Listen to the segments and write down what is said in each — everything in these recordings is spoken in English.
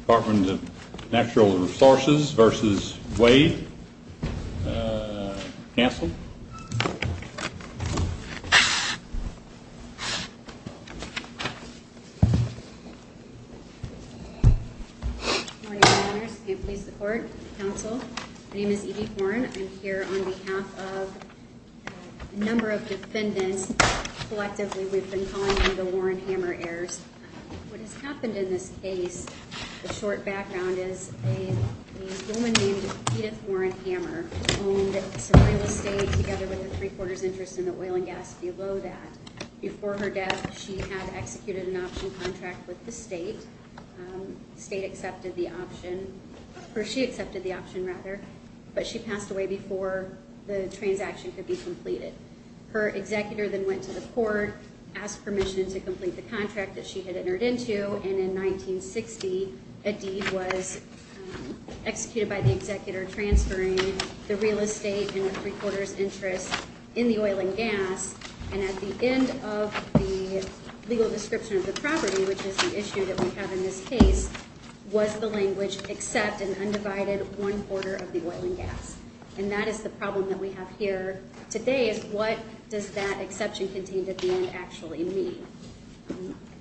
Department of Natural Resources v. Waide. Counsel? Good morning, Your Honors. May it please the Court, Counsel. My name is Edie Horne. I'm here on behalf of a number of defendants. Collectively, we've been calling them the Warren-Hammer heirs. What has happened in this case, the short background is a woman named Edith Warren-Hammer who owned Surreal Estate together with a three quarters interest in the oil and gas below that. Before her death, she had executed an option contract with the state. The state accepted the option, or she accepted the option rather, but she passed away before the transaction could be completed. Her executor then went to the court, asked permission to complete the contract that she had entered into, and in 1960, Edith was executed by the executor transferring the real estate and her three quarters interest in the oil and gas. And at the end of the legal description of the property, which is the issue that we have in this case, was the language, accept an undivided one quarter of the oil and gas. And that is the problem that we have here today, is what does that exception contained at the end actually mean?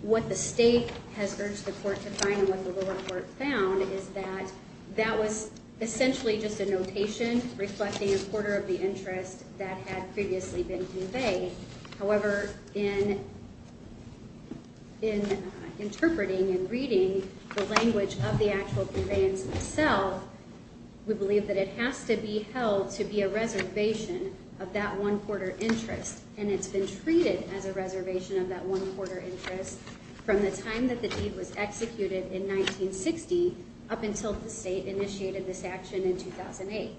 What the state has urged the court to find and what the lower court found is that that was essentially just a notation reflecting a quarter of the interest that had previously been conveyed. However, in interpreting and reading the language of the actual conveyance itself, we believe that it has to be held to be a reservation of that one quarter interest. And it's been treated as a reservation of that one quarter interest from the time that the deed was executed in 1960 up until the state initiated this action in 2008.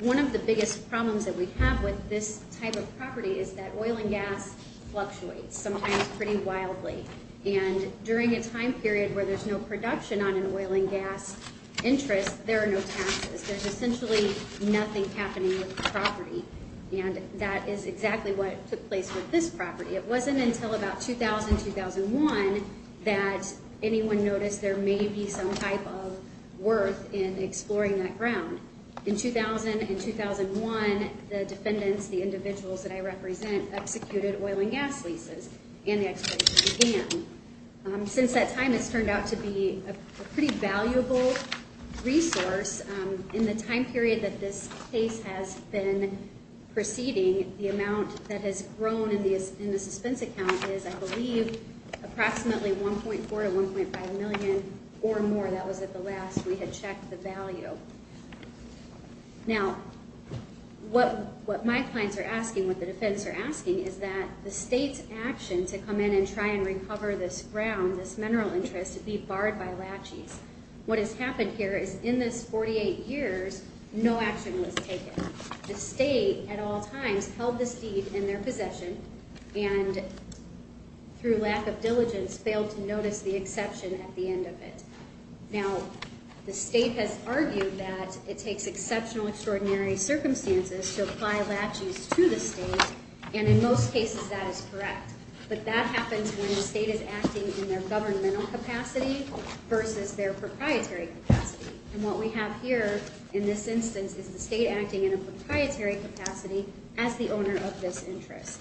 One of the biggest problems that we have with this type of property is that oil and gas fluctuates, sometimes pretty wildly. And during a time period where there's no production on an oil and gas interest, there are no taxes. There's essentially nothing happening with the property. And that is exactly what took place with this property. It wasn't until about 2000-2001 that anyone noticed there may be some type of worth in exploring that ground. In 2000 and 2001, the defendants, the individuals that I represent, executed oil and gas leases and the exploitation began. Since that time, it's turned out to be a pretty valuable resource. In the time period that this case has been proceeding, the amount that has grown in the suspense account is, I believe, approximately $1.4 to $1.5 million or more. That was at the last we had checked the value. Now, what my clients are asking, what the defendants are asking, is that the state's action to come in and try and recover this ground, this mineral interest, be barred by laches. What has happened here is in this 48 years, no action was taken. The state, at all times, held this deed in their possession and, through lack of diligence, failed to notice the exception at the end of it. Now, the state has argued that it takes exceptional, extraordinary circumstances to apply laches to the state and, in most cases, that is correct. But that happens when the state is acting in their governmental capacity versus their proprietary capacity. And what we have here, in this instance, is the state acting in a proprietary capacity as the owner of this interest.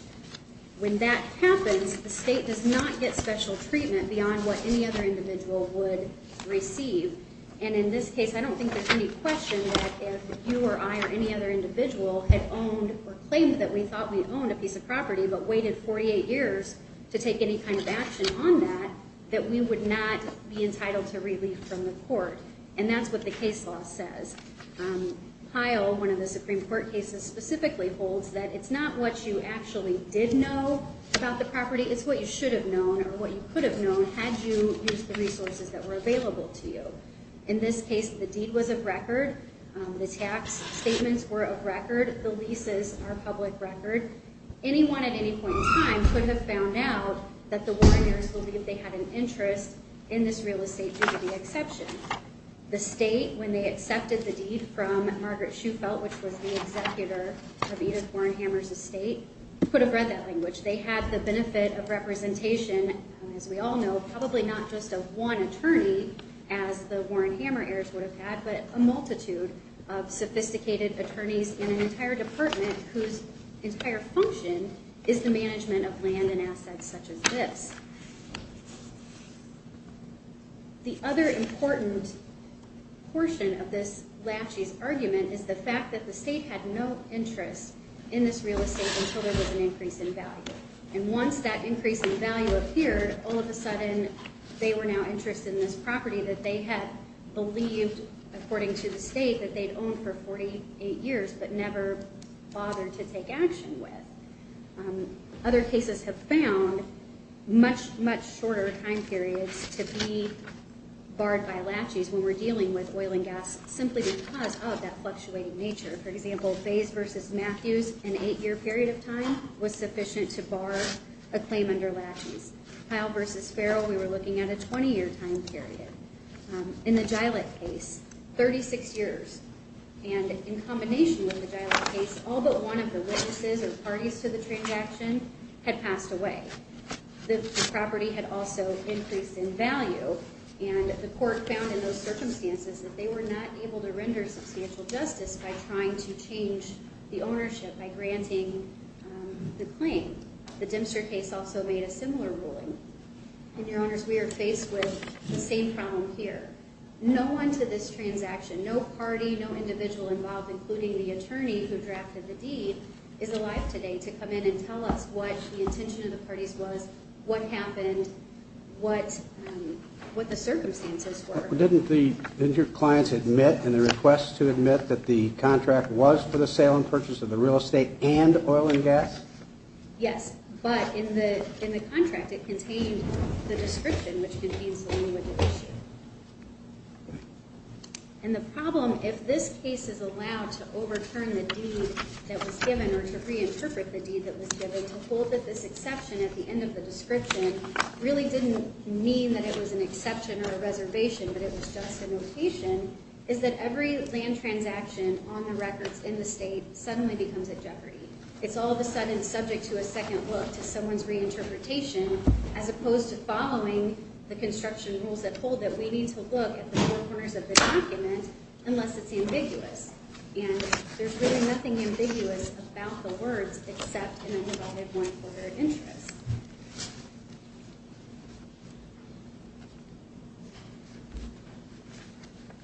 When that happens, the state does not get special treatment beyond what any other individual would receive. And in this case, I don't think there's any question that if you or I or any other individual had owned or claimed that we thought we owned a piece of property but waited 48 years to take any kind of action on that, that we would not be entitled to relief from the court. And that's what the case law says. Pyle, one of the Supreme Court cases, specifically holds that it's not what you actually did know about the property. It's what you should have known or what you could have known had you used the resources that were available to you. In this case, the deed was of record. The tax statements were of record. The leases are public record. Anyone, at any point in time, could have found out that the warreners believed they had an interest in this real estate due to the exception. The state, when they accepted the deed from Margaret Shufelt, which was the executor of Edith Warren Hammer's estate, could have read that language. They had the benefit of representation, as we all know, probably not just of one attorney as the Warren Hammer heirs would have had, but a multitude of sophisticated attorneys in an entire department whose entire function is the management of land and assets such as this. The other important portion of this Lashey's argument is the fact that the state had no interest in this real estate until there was an increase in value. And once that increase in value appeared, all of a sudden, they were now interested in this property that they had believed, according to the state, that they'd owned for 48 years but never bothered to take action with. Other cases have found much, much shorter time periods to be barred by Lashey's when we're dealing with oil and gas simply because of that fluctuating nature. For example, Bays v. Matthews, an 8-year period of time was sufficient to bar a claim under Lashey's. Kyle v. Farrell, we were looking at a 20-year time period. In the Gilet case, 36 years. And in combination with the Gilet case, all but one of the witnesses or parties to the transaction had passed away. The property had also increased in value, and the court found in those circumstances that they were not able to render substantial justice by trying to change the ownership by granting the claim. The Dempster case also made a similar ruling. And, Your Honors, we are faced with the same problem here. No one to this transaction, no party, no individual involved, including the attorney who drafted the deed, is alive today to come in and tell us what the intention of the parties was, what happened, what the circumstances were. Didn't your clients admit in the request to admit that the contract was for the sale and purchase of the real estate and oil and gas? Yes, but in the contract, it contained the description, which contains the language of the issue. And the problem, if this case is allowed to overturn the deed that was given or to reinterpret the deed that was given, to hold that this exception at the end of the description really didn't mean that it was an exception or a reservation, but it was just a notation, is that every land transaction on the records in the state suddenly becomes a jeopardy. It's all of a sudden subject to a second look, to someone's reinterpretation, as opposed to following the construction rules that hold that we need to look at the four corners of the document unless it's ambiguous. And there's really nothing ambiguous about the words except in a one-quarter interest.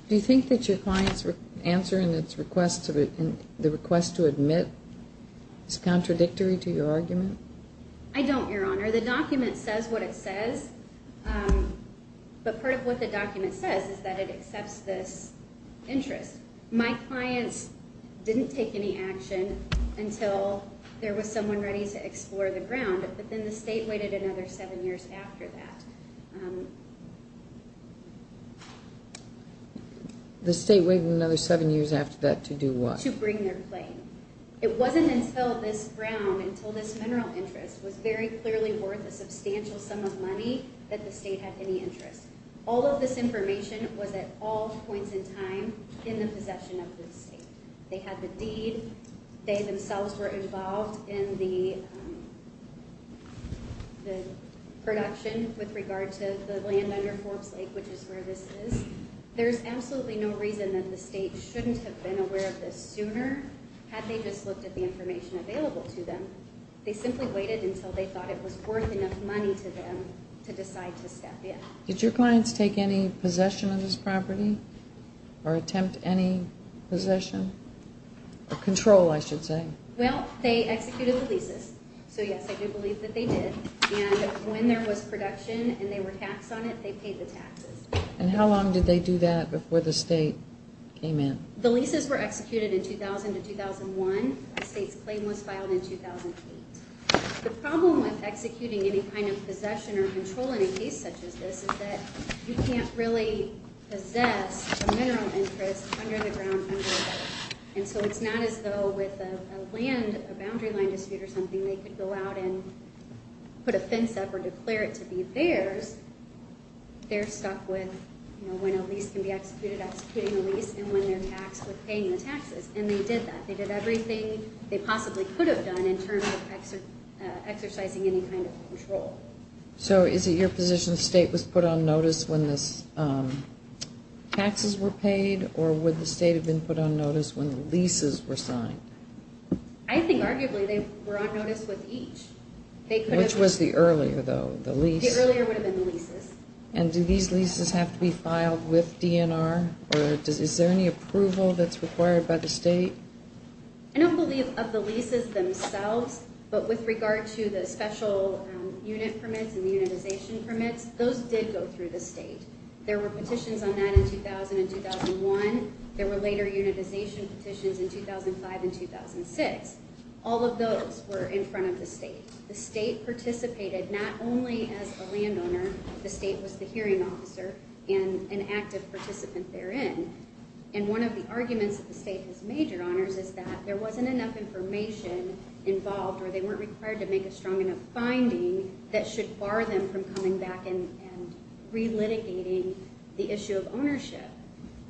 Do you think that your client's answer in the request to admit is contradictory to your argument? I don't, Your Honor. The document says what it says, but part of what the document says is that it accepts this interest. My clients didn't take any action until there was someone ready to explore the ground, but then they didn't. And the state waited another seven years after that. The state waited another seven years after that to do what? To bring their claim. It wasn't until this ground, until this mineral interest, was very clearly worth a substantial sum of money that the state had any interest. All of this information was at all points in time in the possession of this state. They had the deed. They themselves were involved in the production with regard to the land under Forbes Lake, which is where this is. There's absolutely no reason that the state shouldn't have been aware of this sooner had they just looked at the information available to them. They simply waited until they thought it was worth enough money to them to decide to step in. Did your clients take any possession of this property or attempt any possession or control, I should say? Well, they executed the leases. So, yes, I do believe that they did. And when there was production and they were taxed on it, they paid the taxes. And how long did they do that before the state came in? The leases were executed in 2000 to 2001. The state's claim was filed in 2008. The problem with executing any kind of possession or controlling a case such as this is that you can't really possess a mineral interest under the ground under a lease. And so it's not as though with a land, a boundary line dispute or something, they could go out and put a fence up or declare it to be theirs. They're stuck with, you know, when a lease can be executed, executing a lease, and when they're taxed with paying the taxes. And they did that. They did everything they possibly could have done in terms of exercising any kind of control. So is it your position the state was put on notice when the taxes were paid or would the state have been put on notice when the leases were signed? I think arguably they were on notice with each. Which was the earlier, though, the lease? The earlier would have been the leases. And do these leases have to be filed with DNR or is there any approval that's required by the state? I don't believe of the leases themselves, but with regard to the special unit permits and the unitization permits, those did go through the state. There were petitions on that in 2000 and 2001. There were later unitization petitions in 2005 and 2006. All of those were in front of the state. The state participated not only as a landowner. The state was the hearing officer and an active participant therein. And one of the arguments that the state has made, Your Honors, is that there wasn't enough information involved or they weren't required to make a strong enough finding that should bar them from coming back and relitigating the issue of ownership.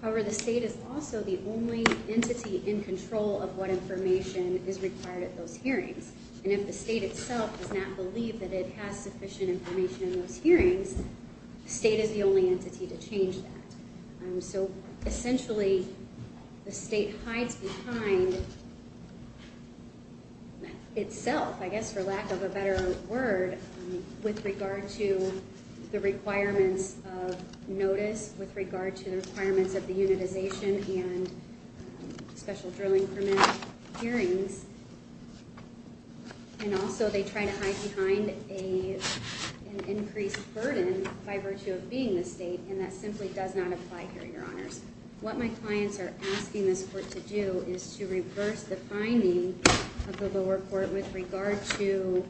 However, the state is also the only entity in control of what information is required at those hearings. And if the state itself does not believe that it has sufficient information in those hearings, the state is the only entity to change that. So essentially, the state hides behind itself, I guess, for lack of a better word, with regard to the requirements of notice, with regard to the requirements of the unitization and special drilling permit hearings. And also, they try to hide behind an increased burden by virtue of being the state, and that simply does not apply here, Your Honors. What my clients are asking this court to do is to reverse the finding of the lower court with regard to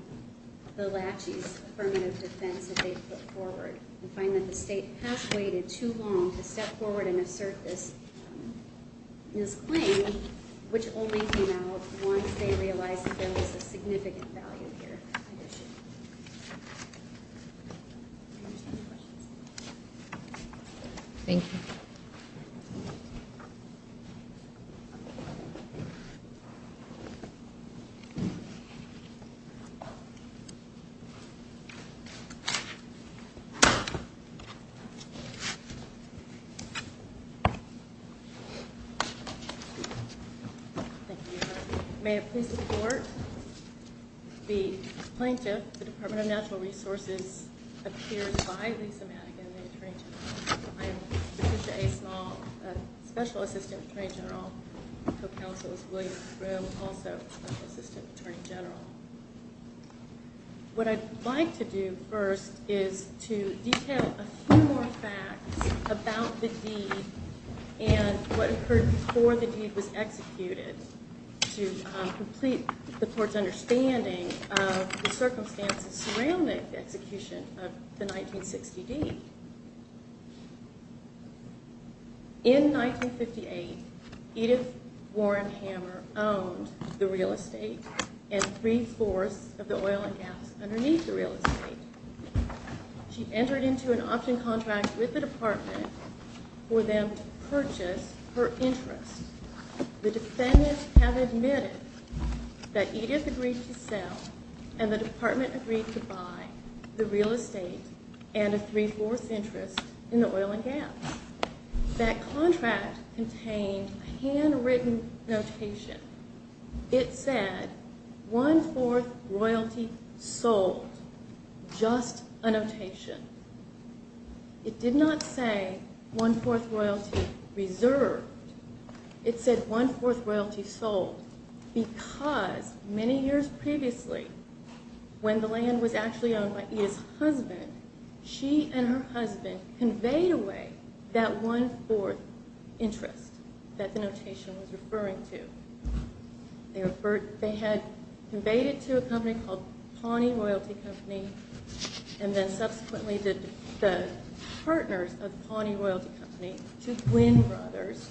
the laches affirmative defense that they've put forward. And find that the state has waited too long to step forward and assert this claim, which only came out once they realized that there was a significant value here. I understand your questions. Thank you. Thank you, Your Honor. What I'd like to do first is to detail a few more facts about the deed and what occurred before the deed was executed to complete the court's understanding of the circumstances surrounding the execution of the 1960 deed. In 1958, Edith Warren Hammer owned the real estate and three-fourths of the oil and gas underneath the real estate. She entered into an option contract with the department for them to purchase her interest. The defendants have admitted that Edith agreed to sell and the department agreed to buy the real estate and a three-fourths interest in the oil and gas. That contract contained a handwritten notation. It said, one-fourth royalty sold. Just a notation. It did not say one-fourth royalty reserved. It said one-fourth royalty sold because many years previously, when the land was actually owned by Edith's husband, she and her husband conveyed away that one-fourth interest that the notation was referring to. They had conveyed it to a company called Pawnee Royalty Company and then subsequently the partners of Pawnee Royalty Company, two twin brothers,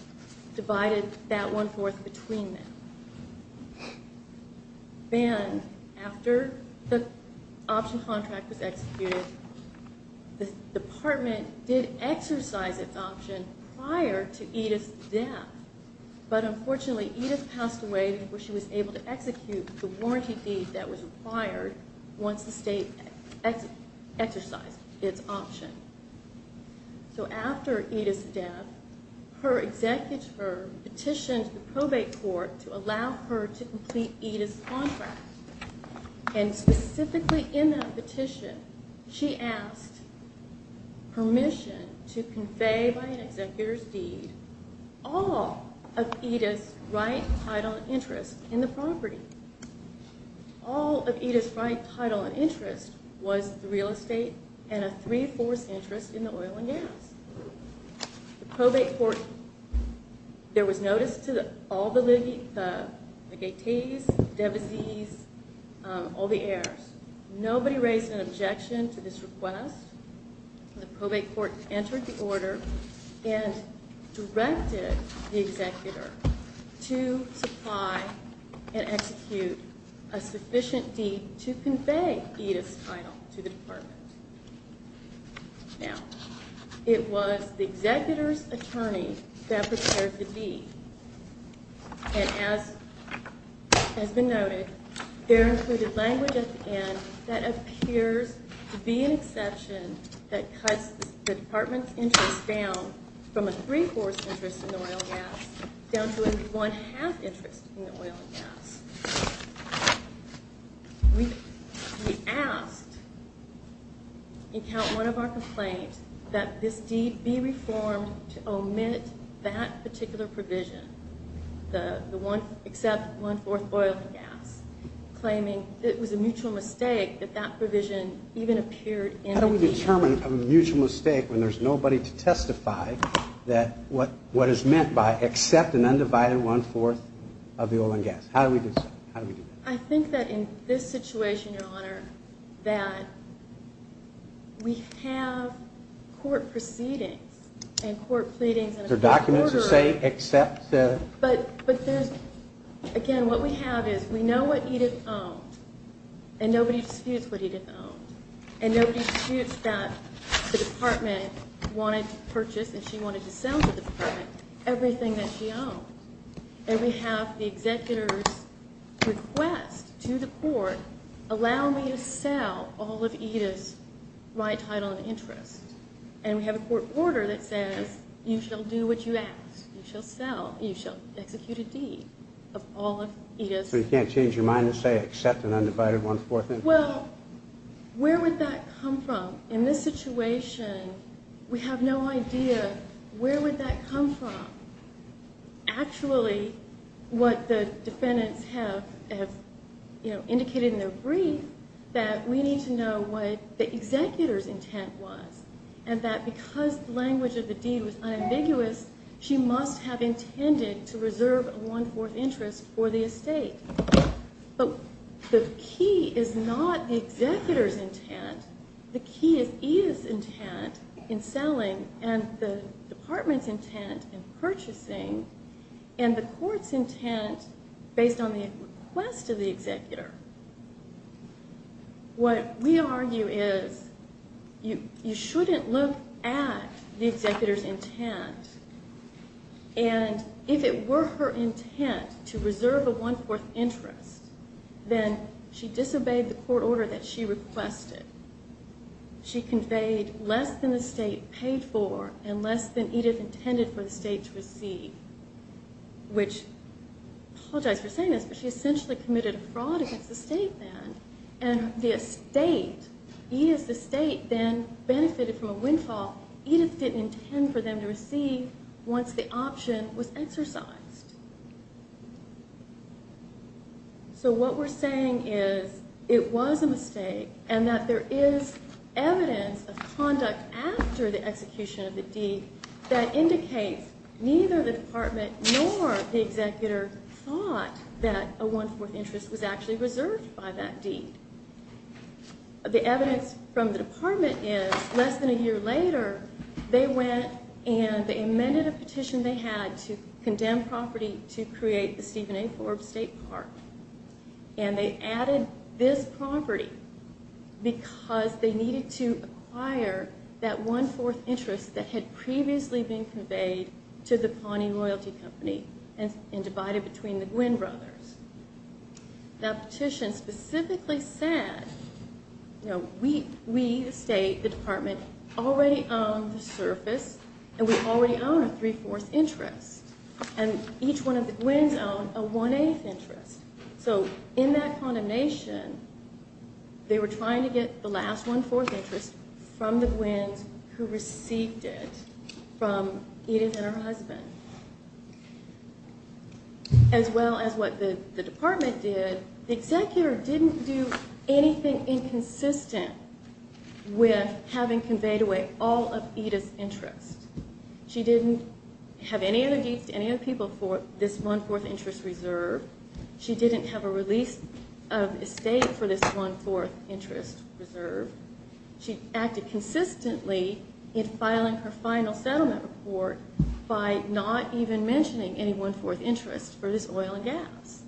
divided that one-fourth between them. Then, after the option contract was executed, the department did exercise its option prior to Edith's death. But unfortunately, Edith passed away before she was able to execute the warranty deed that was required once the state exercised its option. After Edith's death, her executor petitioned the probate court to allow her to complete Edith's contract. Specifically in that petition, she asked permission to convey by an executor's deed all of Edith's right, title, and interest in the property. All of Edith's right, title, and interest was the real estate and a three-fourths interest in the oil and gas. The probate court, there was notice to all the gatees, the devisees, all the heirs. Nobody raised an objection to this request. The probate court entered the order and directed the executor to supply and execute a sufficient deed to convey Edith's title to the department. Now, it was the executor's attorney that prepared the deed. And as has been noted, there included language at the end that appears to be an exception that cuts the department's interest down from a three-fourths interest in the oil and gas down to a one-half interest in the oil and gas. We asked in count one of our complaints that this deed be reformed to omit that particular provision, the one, except one-fourth oil and gas, claiming it was a mutual mistake that that provision even appeared in the deed. How do we determine a mutual mistake when there's nobody to testify that what is meant by except an undivided one-fourth of the oil and gas? How do we do that? I think that in this situation, your honor, that we have court proceedings and court pleadings. There are documents that say except. Again, what we have is we know what Edith owned, and nobody disputes what Edith owned. And nobody disputes that the department wanted to purchase and she wanted to sell to the department everything that she owned. And we have the executor's request to the court, allow me to sell all of Edith's right title and interest. And we have a court order that says you shall do what you ask. You shall sell. You shall execute a deed of all of Edith's. So you can't change your mind and say except an undivided one-fourth interest? Well, where would that come from? In this situation, we have no idea where would that come from. Actually, what the defendants have indicated in their brief that we need to know what the executor's intent was. And that because the language of the deed was unambiguous, she must have intended to reserve a one-fourth interest for the estate. But the key is not the executor's intent. The key is Edith's intent in selling and the department's intent in purchasing and the court's intent based on the request of the executor. What we argue is you shouldn't look at the executor's intent. And if it were her intent to reserve a one-fourth interest, then she disobeyed the court order that she requested. She conveyed less than the state paid for and less than Edith intended for the state to receive. Which, I apologize for saying this, but she essentially committed a fraud against the state then. And the estate, Edith's estate then benefited from a windfall Edith didn't intend for them to receive once the option was exercised. So what we're saying is it was a mistake and that there is evidence of conduct after the execution of the deed that indicates neither the department nor the executor thought that a one-fourth interest was actually reserved by that deed. The evidence from the department is less than a year later, they went and they amended a petition they had to condemn property to create the Stephen A. Forbes State Park. And they added this property because they needed to acquire that one-fourth interest that had previously been conveyed to the Pawnee Royalty Company and divided between the Gwynn brothers. That petition specifically said, you know, we, the state, the department, already own the surface and we already own a three-fourths interest. And each one of the Gwynns own a one-eighth interest. So in that condemnation, they were trying to get the last one-fourth interest from the Gwynns who received it from Edith and her husband. As well as what the department did, the executor didn't do anything inconsistent with having conveyed away all of Edith's interest. She didn't have any other deeds to any other people for this one-fourth interest reserve. She didn't have a release of estate for this one-fourth interest reserve. She acted consistently in filing her final settlement report by not even mentioning any one-fourth interest for this oil and gas.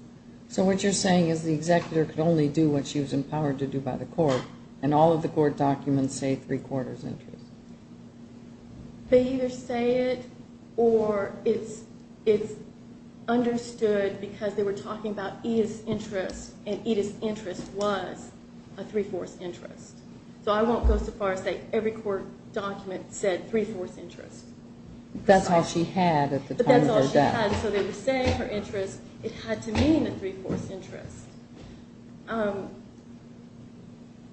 So what you're saying is the executor could only do what she was empowered to do by the court and all of the court documents say three-quarters interest. They either say it or it's understood because they were talking about Edith's interest and Edith's interest was a three-fourths interest. So I won't go so far as to say every court document said three-fourths interest. That's all she had at the time of her death. That's all she had. So they were saying her interest, it had to mean a three-fourths interest.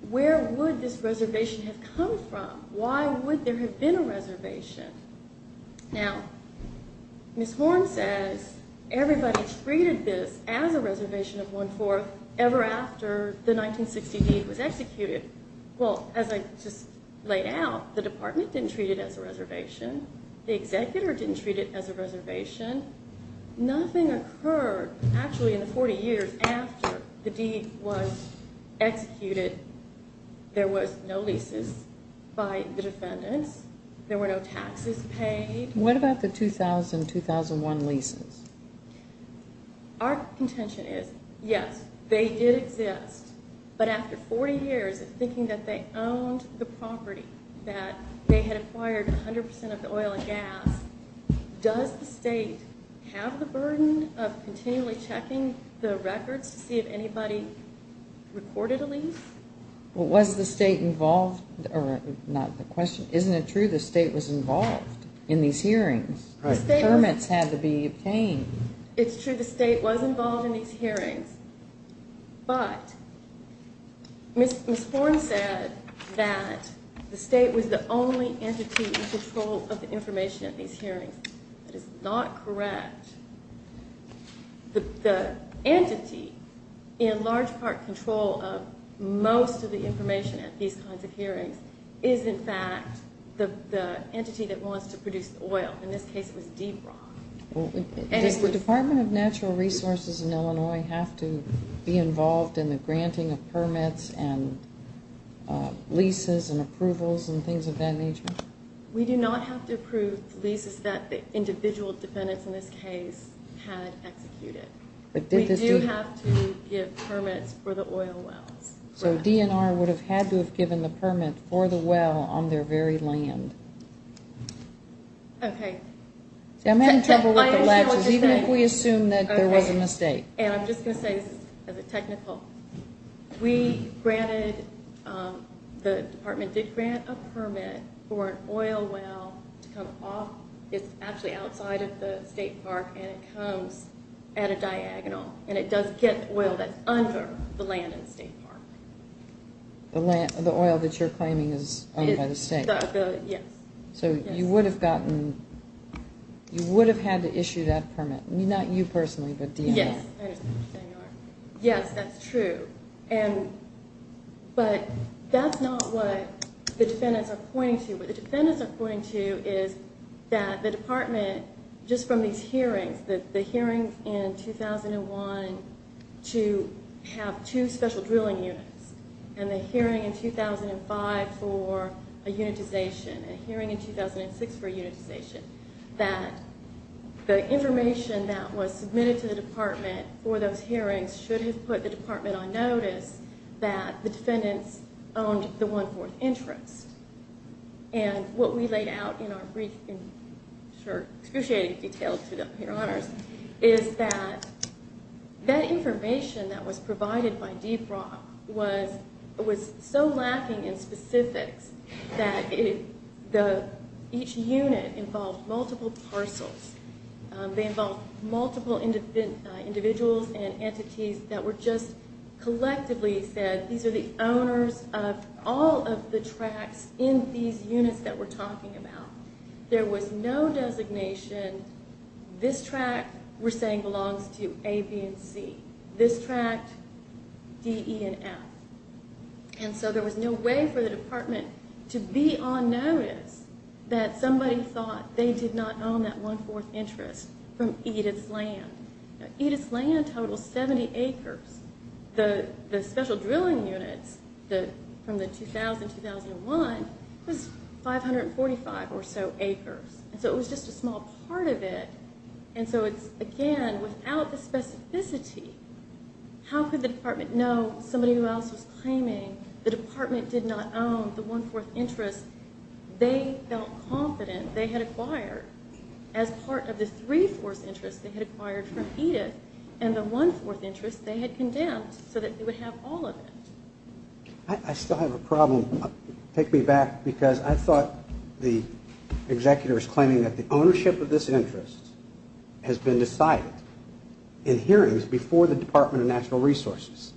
Where would this reservation have come from? Why would there have been a reservation? Now, Ms. Horn says everybody treated this as a reservation of one-fourth ever after the 1960 deed was executed. Well, as I just laid out, the department didn't treat it as a reservation. The executor didn't treat it as a reservation. Nothing occurred actually in the 40 years after the deed was executed. There was no leases by the defendants. There were no taxes paid. What about the 2000-2001 leases? Our contention is, yes, they did exist, but after 40 years of thinking that they owned the property, that they had acquired 100 percent of the oil and gas, does the state have the burden of continually checking the records to see if anybody recorded a lease? Well, was the state involved? Or, not the question, isn't it true the state was involved in these hearings? The permits had to be obtained. It's true the state was involved in these hearings. But Ms. Horn said that the state was the only entity in control of the information at these hearings. That is not correct. The entity in large part control of most of the information at these kinds of hearings is, in fact, the entity that wants to produce the oil. In this case, it was Debron. Does the Department of Natural Resources in Illinois have to be involved in the granting of permits and leases and approvals and things of that nature? We do not have to approve leases that the individual defendants in this case had executed. We do have to give permits for the oil wells. So DNR would have had to have given the permit for the well on their very land. Okay. See, I'm having trouble with the latches, even if we assume that there was a mistake. And I'm just going to say this as a technical. We granted, the department did grant a permit for an oil well to come off. It's actually outside of the state park, and it comes at a diagonal, and it does get oil that's under the land in the state park. The oil that you're claiming is owned by the state? Yes. So you would have gotten, you would have had to issue that permit. Not you personally, but DNR. Yes. Yes, that's true. But that's not what the defendants are pointing to. What the defendants are pointing to is that the department, just from these hearings, the hearings in 2001 to have two special drilling units, and the hearing in 2005 for a unitization, a hearing in 2006 for a unitization, that the information that was submitted to the department for those hearings should have put the department on notice that the defendants owned the one-fourth interest. And what we laid out in our brief and, sure, excruciating detail to your honors, is that that information that was provided by Deep Rock was so lacking in specifics that each unit involved multiple parcels. They involved multiple individuals and entities that were just collectively said, these are the owners of all of the tracts in these units that we're talking about. There was no designation, this tract we're saying belongs to A, B, and C. This tract, D, E, and F. And so there was no way for the department to be on notice that somebody thought they did not own that one-fourth interest from Edith's land. Edith's land totals 70 acres. The special drilling units from the 2000-2001 was 545 or so acres. And so it was just a small part of it. And so it's, again, without the specificity, how could the department know somebody else was claiming the department did not own the one-fourth interest they felt confident they had acquired as part of the three-fourths interest they had acquired from Edith and the one-fourth interest they had condemned so that they would have all of it? I still have a problem. Take me back because I thought the executor was claiming that the ownership of this interest has been decided in hearings before the Department of National Resources.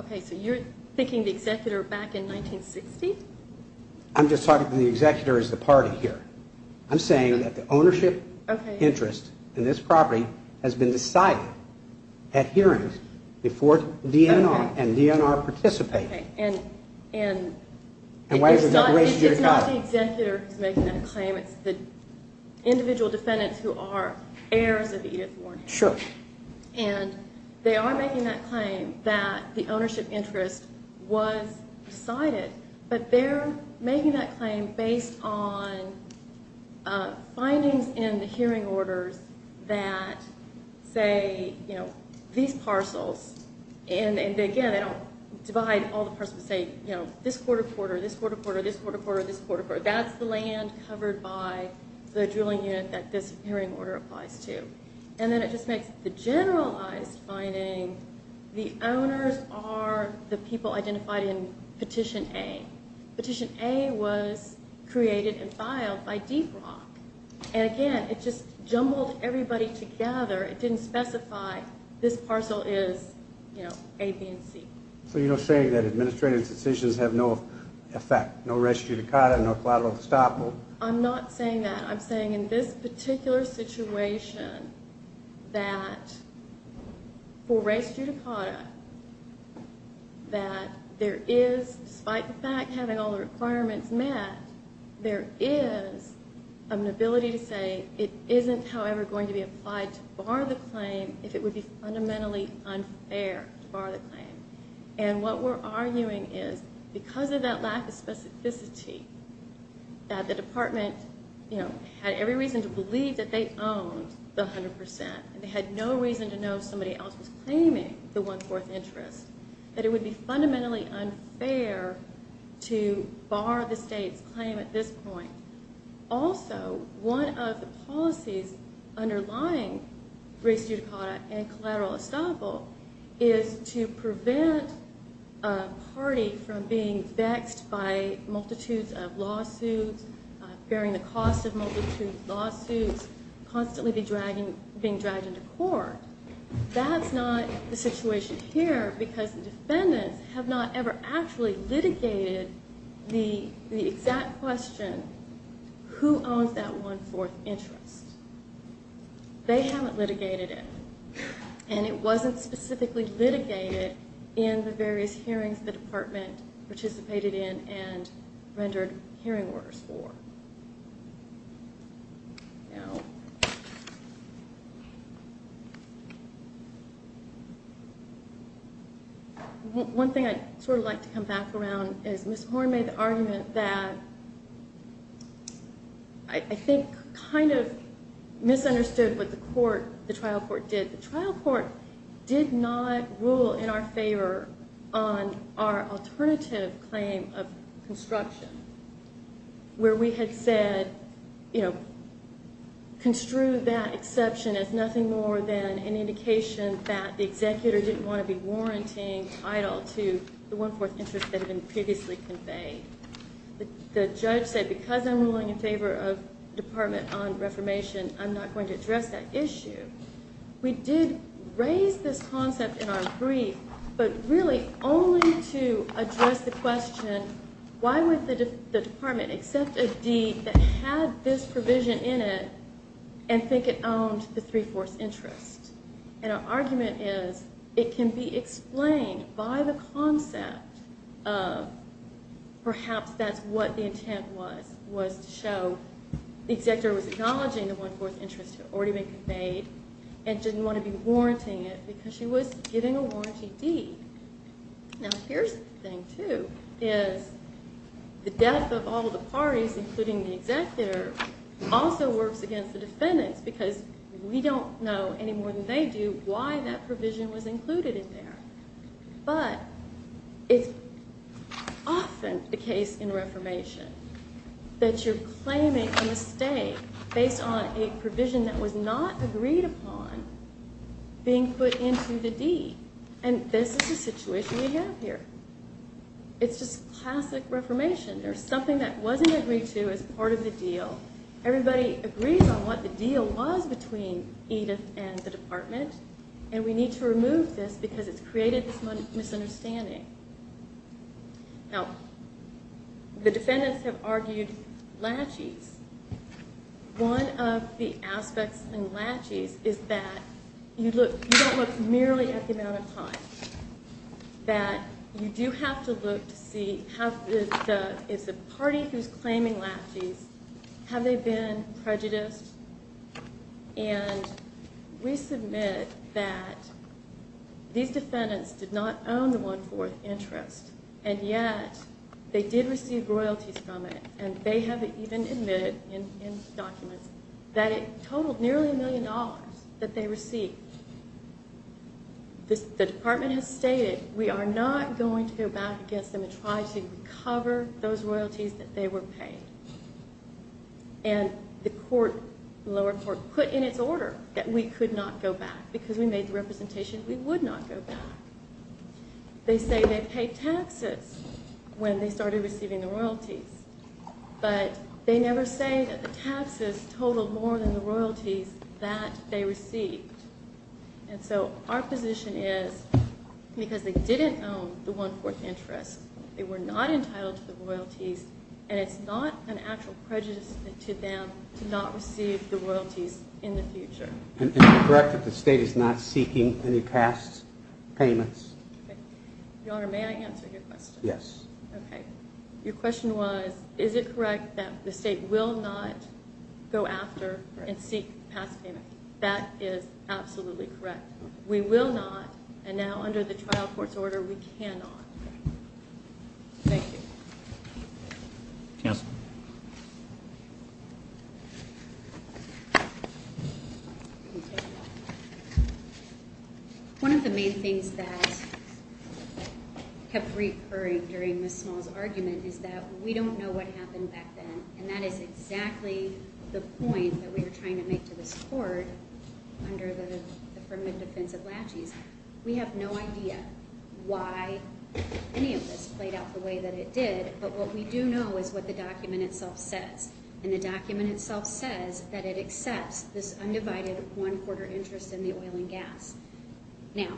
Okay, so you're thinking the executor back in 1960? I'm just talking to the executor as the party here. I'm saying that the ownership interest in this property has been decided at hearings before DNR and DNR participated. And it's not the executor who's making that claim. It's the individual defendants who are heirs of Edith Warren. Sure. And they are making that claim that the ownership interest was decided, but they're making that claim based on findings in the hearing orders that say, you know, these parcels and, again, they don't divide all the parcels and say, you know, this quarter, quarter, this quarter, quarter, this quarter, quarter, this quarter, quarter. That's the land covered by the drilling unit that this hearing order applies to. And then it just makes the generalized finding the owners are the people identified in Petition A. Petition A was created and filed by Deep Rock. And, again, it just jumbled everybody together. It didn't specify this parcel is, you know, A, B, and C. So you're not saying that administrative decisions have no effect, no res judicata, no collateral estoppel? I'm not saying that. I'm saying in this particular situation that for res judicata, that there is, despite the fact having all the requirements met, there is an ability to say it isn't, however, going to be applied to bar the claim if it would be fundamentally unfair to bar the claim. And what we're arguing is because of that lack of specificity that the department, you know, had every reason to believe that they owned the 100 percent, and they had no reason to know somebody else was claiming the one-fourth interest, that it would be fundamentally unfair to bar the state's claim at this point. Also, one of the policies underlying res judicata and collateral estoppel is to prevent a party from being vexed by multitudes of lawsuits, bearing the cost of multitudes of lawsuits, constantly being dragged into court. That's not the situation here because the defendants have not ever actually litigated the exact question, who owns that one-fourth interest? They haven't litigated it. And it wasn't specifically litigated in the various hearings the department participated in and rendered hearing orders for. One thing I'd sort of like to come back around is Ms. Horne made the argument that I think kind of misunderstood what the trial court did. The trial court did not rule in our favor on our alternative claim of construction, where we had said, you know, construed that exception as nothing more than an indication that the executor didn't want to be warranting title to the one-fourth interest that had been previously conveyed. The judge said, because I'm ruling in favor of the Department on Reformation, I'm not going to address that issue. We did raise this concept in our brief, but really only to address the question, why would the department accept a deed that had this provision in it and think it owned the three-fourths interest? And our argument is it can be explained by the concept of perhaps that's what the intent was, was to show the executor was acknowledging the one-fourth interest had already been conveyed and didn't want to be warranting it because she was getting a warranty deed. Now, here's the thing, too, is the death of all the parties, including the executor, also works against the defendants because we don't know any more than they do why that provision was included in there. But it's often the case in reformation that you're claiming a mistake based on a provision that was not agreed upon being put into the deed. And this is the situation we have here. It's just classic reformation. There's something that wasn't agreed to as part of the deal. Everybody agrees on what the deal was between Edith and the department, and we need to remove this because it's created this misunderstanding. Now, the defendants have argued latches. One of the aspects in latches is that you don't look merely at the amount of time, that you do have to look to see if the party who's claiming latches, have they been prejudiced? And we submit that these defendants did not own the one-fourth interest, and yet they did receive royalties from it, and they have even admitted in documents that it totaled nearly a million dollars that they received. The department has stated we are not going to go back against them and try to recover those royalties that they were paid. And the lower court put in its order that we could not go back because we made the representation we would not go back. They say they paid taxes when they started receiving the royalties, but they never say that the taxes totaled more than the royalties that they received. And so our position is because they didn't own the one-fourth interest, they were not entitled to the royalties, and it's not an actual prejudice to them to not receive the royalties in the future. And is it correct that the state is not seeking any past payments? Your Honor, may I answer your question? Yes. Okay. Your question was, is it correct that the state will not go after and seek past payments? That is absolutely correct. We will not, and now under the trial court's order, we cannot. Thank you. Counsel. Thank you. One of the main things that kept recurring during Ms. Small's argument is that we don't know what happened back then, and that is exactly the point that we are trying to make to this court under the affirmative defense of laches. We have no idea why any of this played out the way that it did, but what we do know is what the document itself says, and the document itself says that it accepts this undivided one-quarter interest in the oil and gas. Now,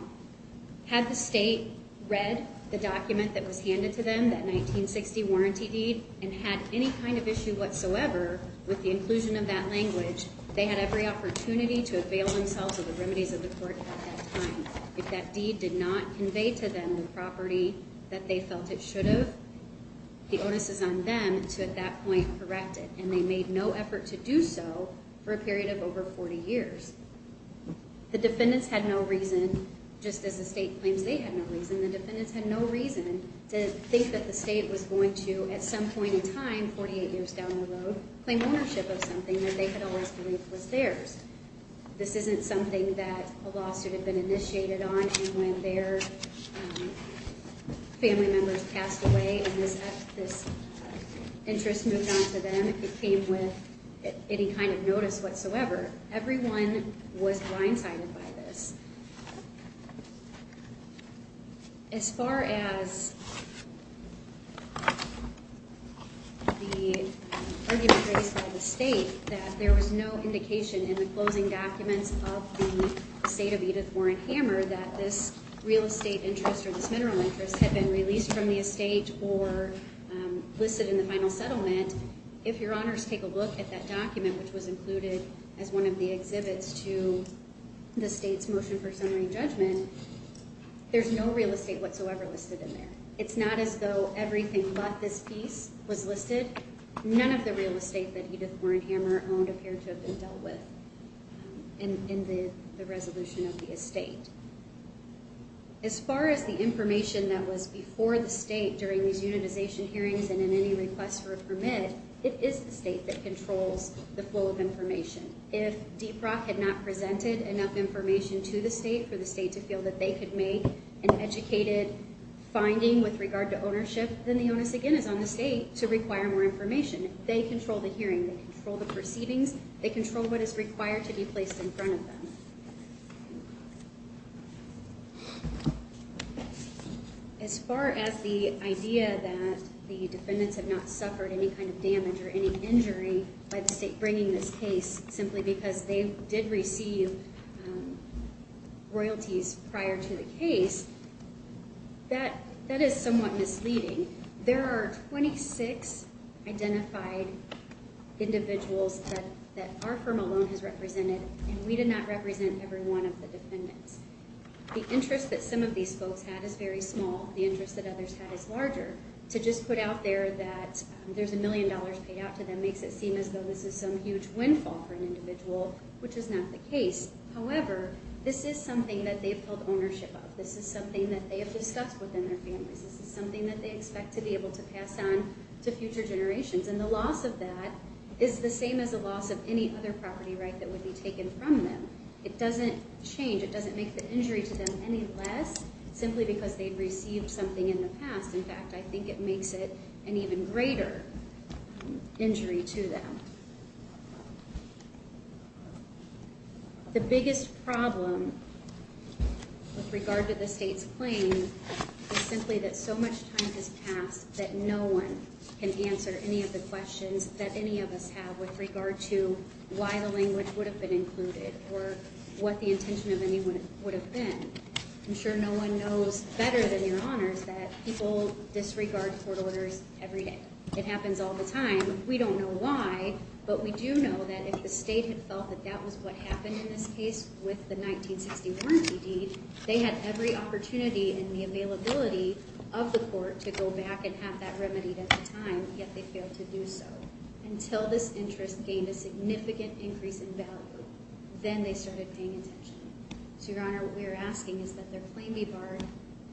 had the state read the document that was handed to them, that 1960 warranty deed, and had any kind of issue whatsoever with the inclusion of that language, they had every opportunity to avail themselves of the remedies of the court at that time. If that deed did not convey to them the property that they felt it should have, the onus is on them to, at that point, correct it, and they made no effort to do so for a period of over 40 years. The defendants had no reason, just as the state claims they had no reason, the defendants had no reason to think that the state was going to, at some point in time, 48 years down the road, claim ownership of something that they had always believed was theirs. This isn't something that a lawsuit had been initiated on, and when their family members passed away and this interest moved on to them, it came with any kind of notice whatsoever. Everyone was blindsided by this. As far as the argument raised by the state, that there was no indication in the closing documents of the State of Edith Warren Hammer that this real estate interest or this mineral interest had been released from the estate or listed in the final settlement, if your honors take a look at that document, which was included as one of the exhibits to the state's motion for summary judgment, there's no real estate whatsoever listed in there. It's not as though everything but this piece was listed. None of the real estate that Edith Warren Hammer owned would appear to have been dealt with in the resolution of the estate. As far as the information that was before the state during these unitization hearings and in any request for a permit, it is the state that controls the flow of information. If DPROC had not presented enough information to the state for the state to feel that they could make an educated finding with regard to ownership, then the onus, again, is on the state to require more information. They control the hearing. They control the proceedings. They control what is required to be placed in front of them. As far as the idea that the defendants have not suffered any kind of damage or any injury by the state bringing this case simply because they did receive royalties prior to the case, that is somewhat misleading. There are 26 identified individuals that our firm alone has represented, and we did not represent every one of the defendants. The interest that some of these folks had is very small. The interest that others had is larger. To just put out there that there's a million dollars paid out to them makes it seem as though this is some huge windfall for an individual, which is not the case. However, this is something that they've held ownership of. This is something that they have discussed within their families. This is something that they expect to be able to pass on to future generations. And the loss of that is the same as the loss of any other property right that would be taken from them. It doesn't change. It doesn't make the injury to them any less, simply because they've received something in the past. In fact, I think it makes it an even greater injury to them. The biggest problem with regard to the State's claim is simply that so much time has passed that no one can answer any of the questions that any of us have with regard to why the language would have been included or what the intention of any would have been. I'm sure no one knows better than Your Honors that people disregard court orders every day. It happens all the time. We don't know why, but we do know that if the State had felt that that was what happened in this case with the 1960 warranty deed, they had every opportunity in the availability of the court to go back and have that remedied at the time, yet they failed to do so until this interest gained a significant increase in value. Then they started paying attention. So, Your Honor, what we're asking is that their claim be barred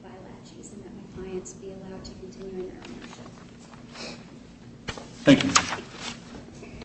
by laches and that my clients be allowed to continue in their ownership. Thank you.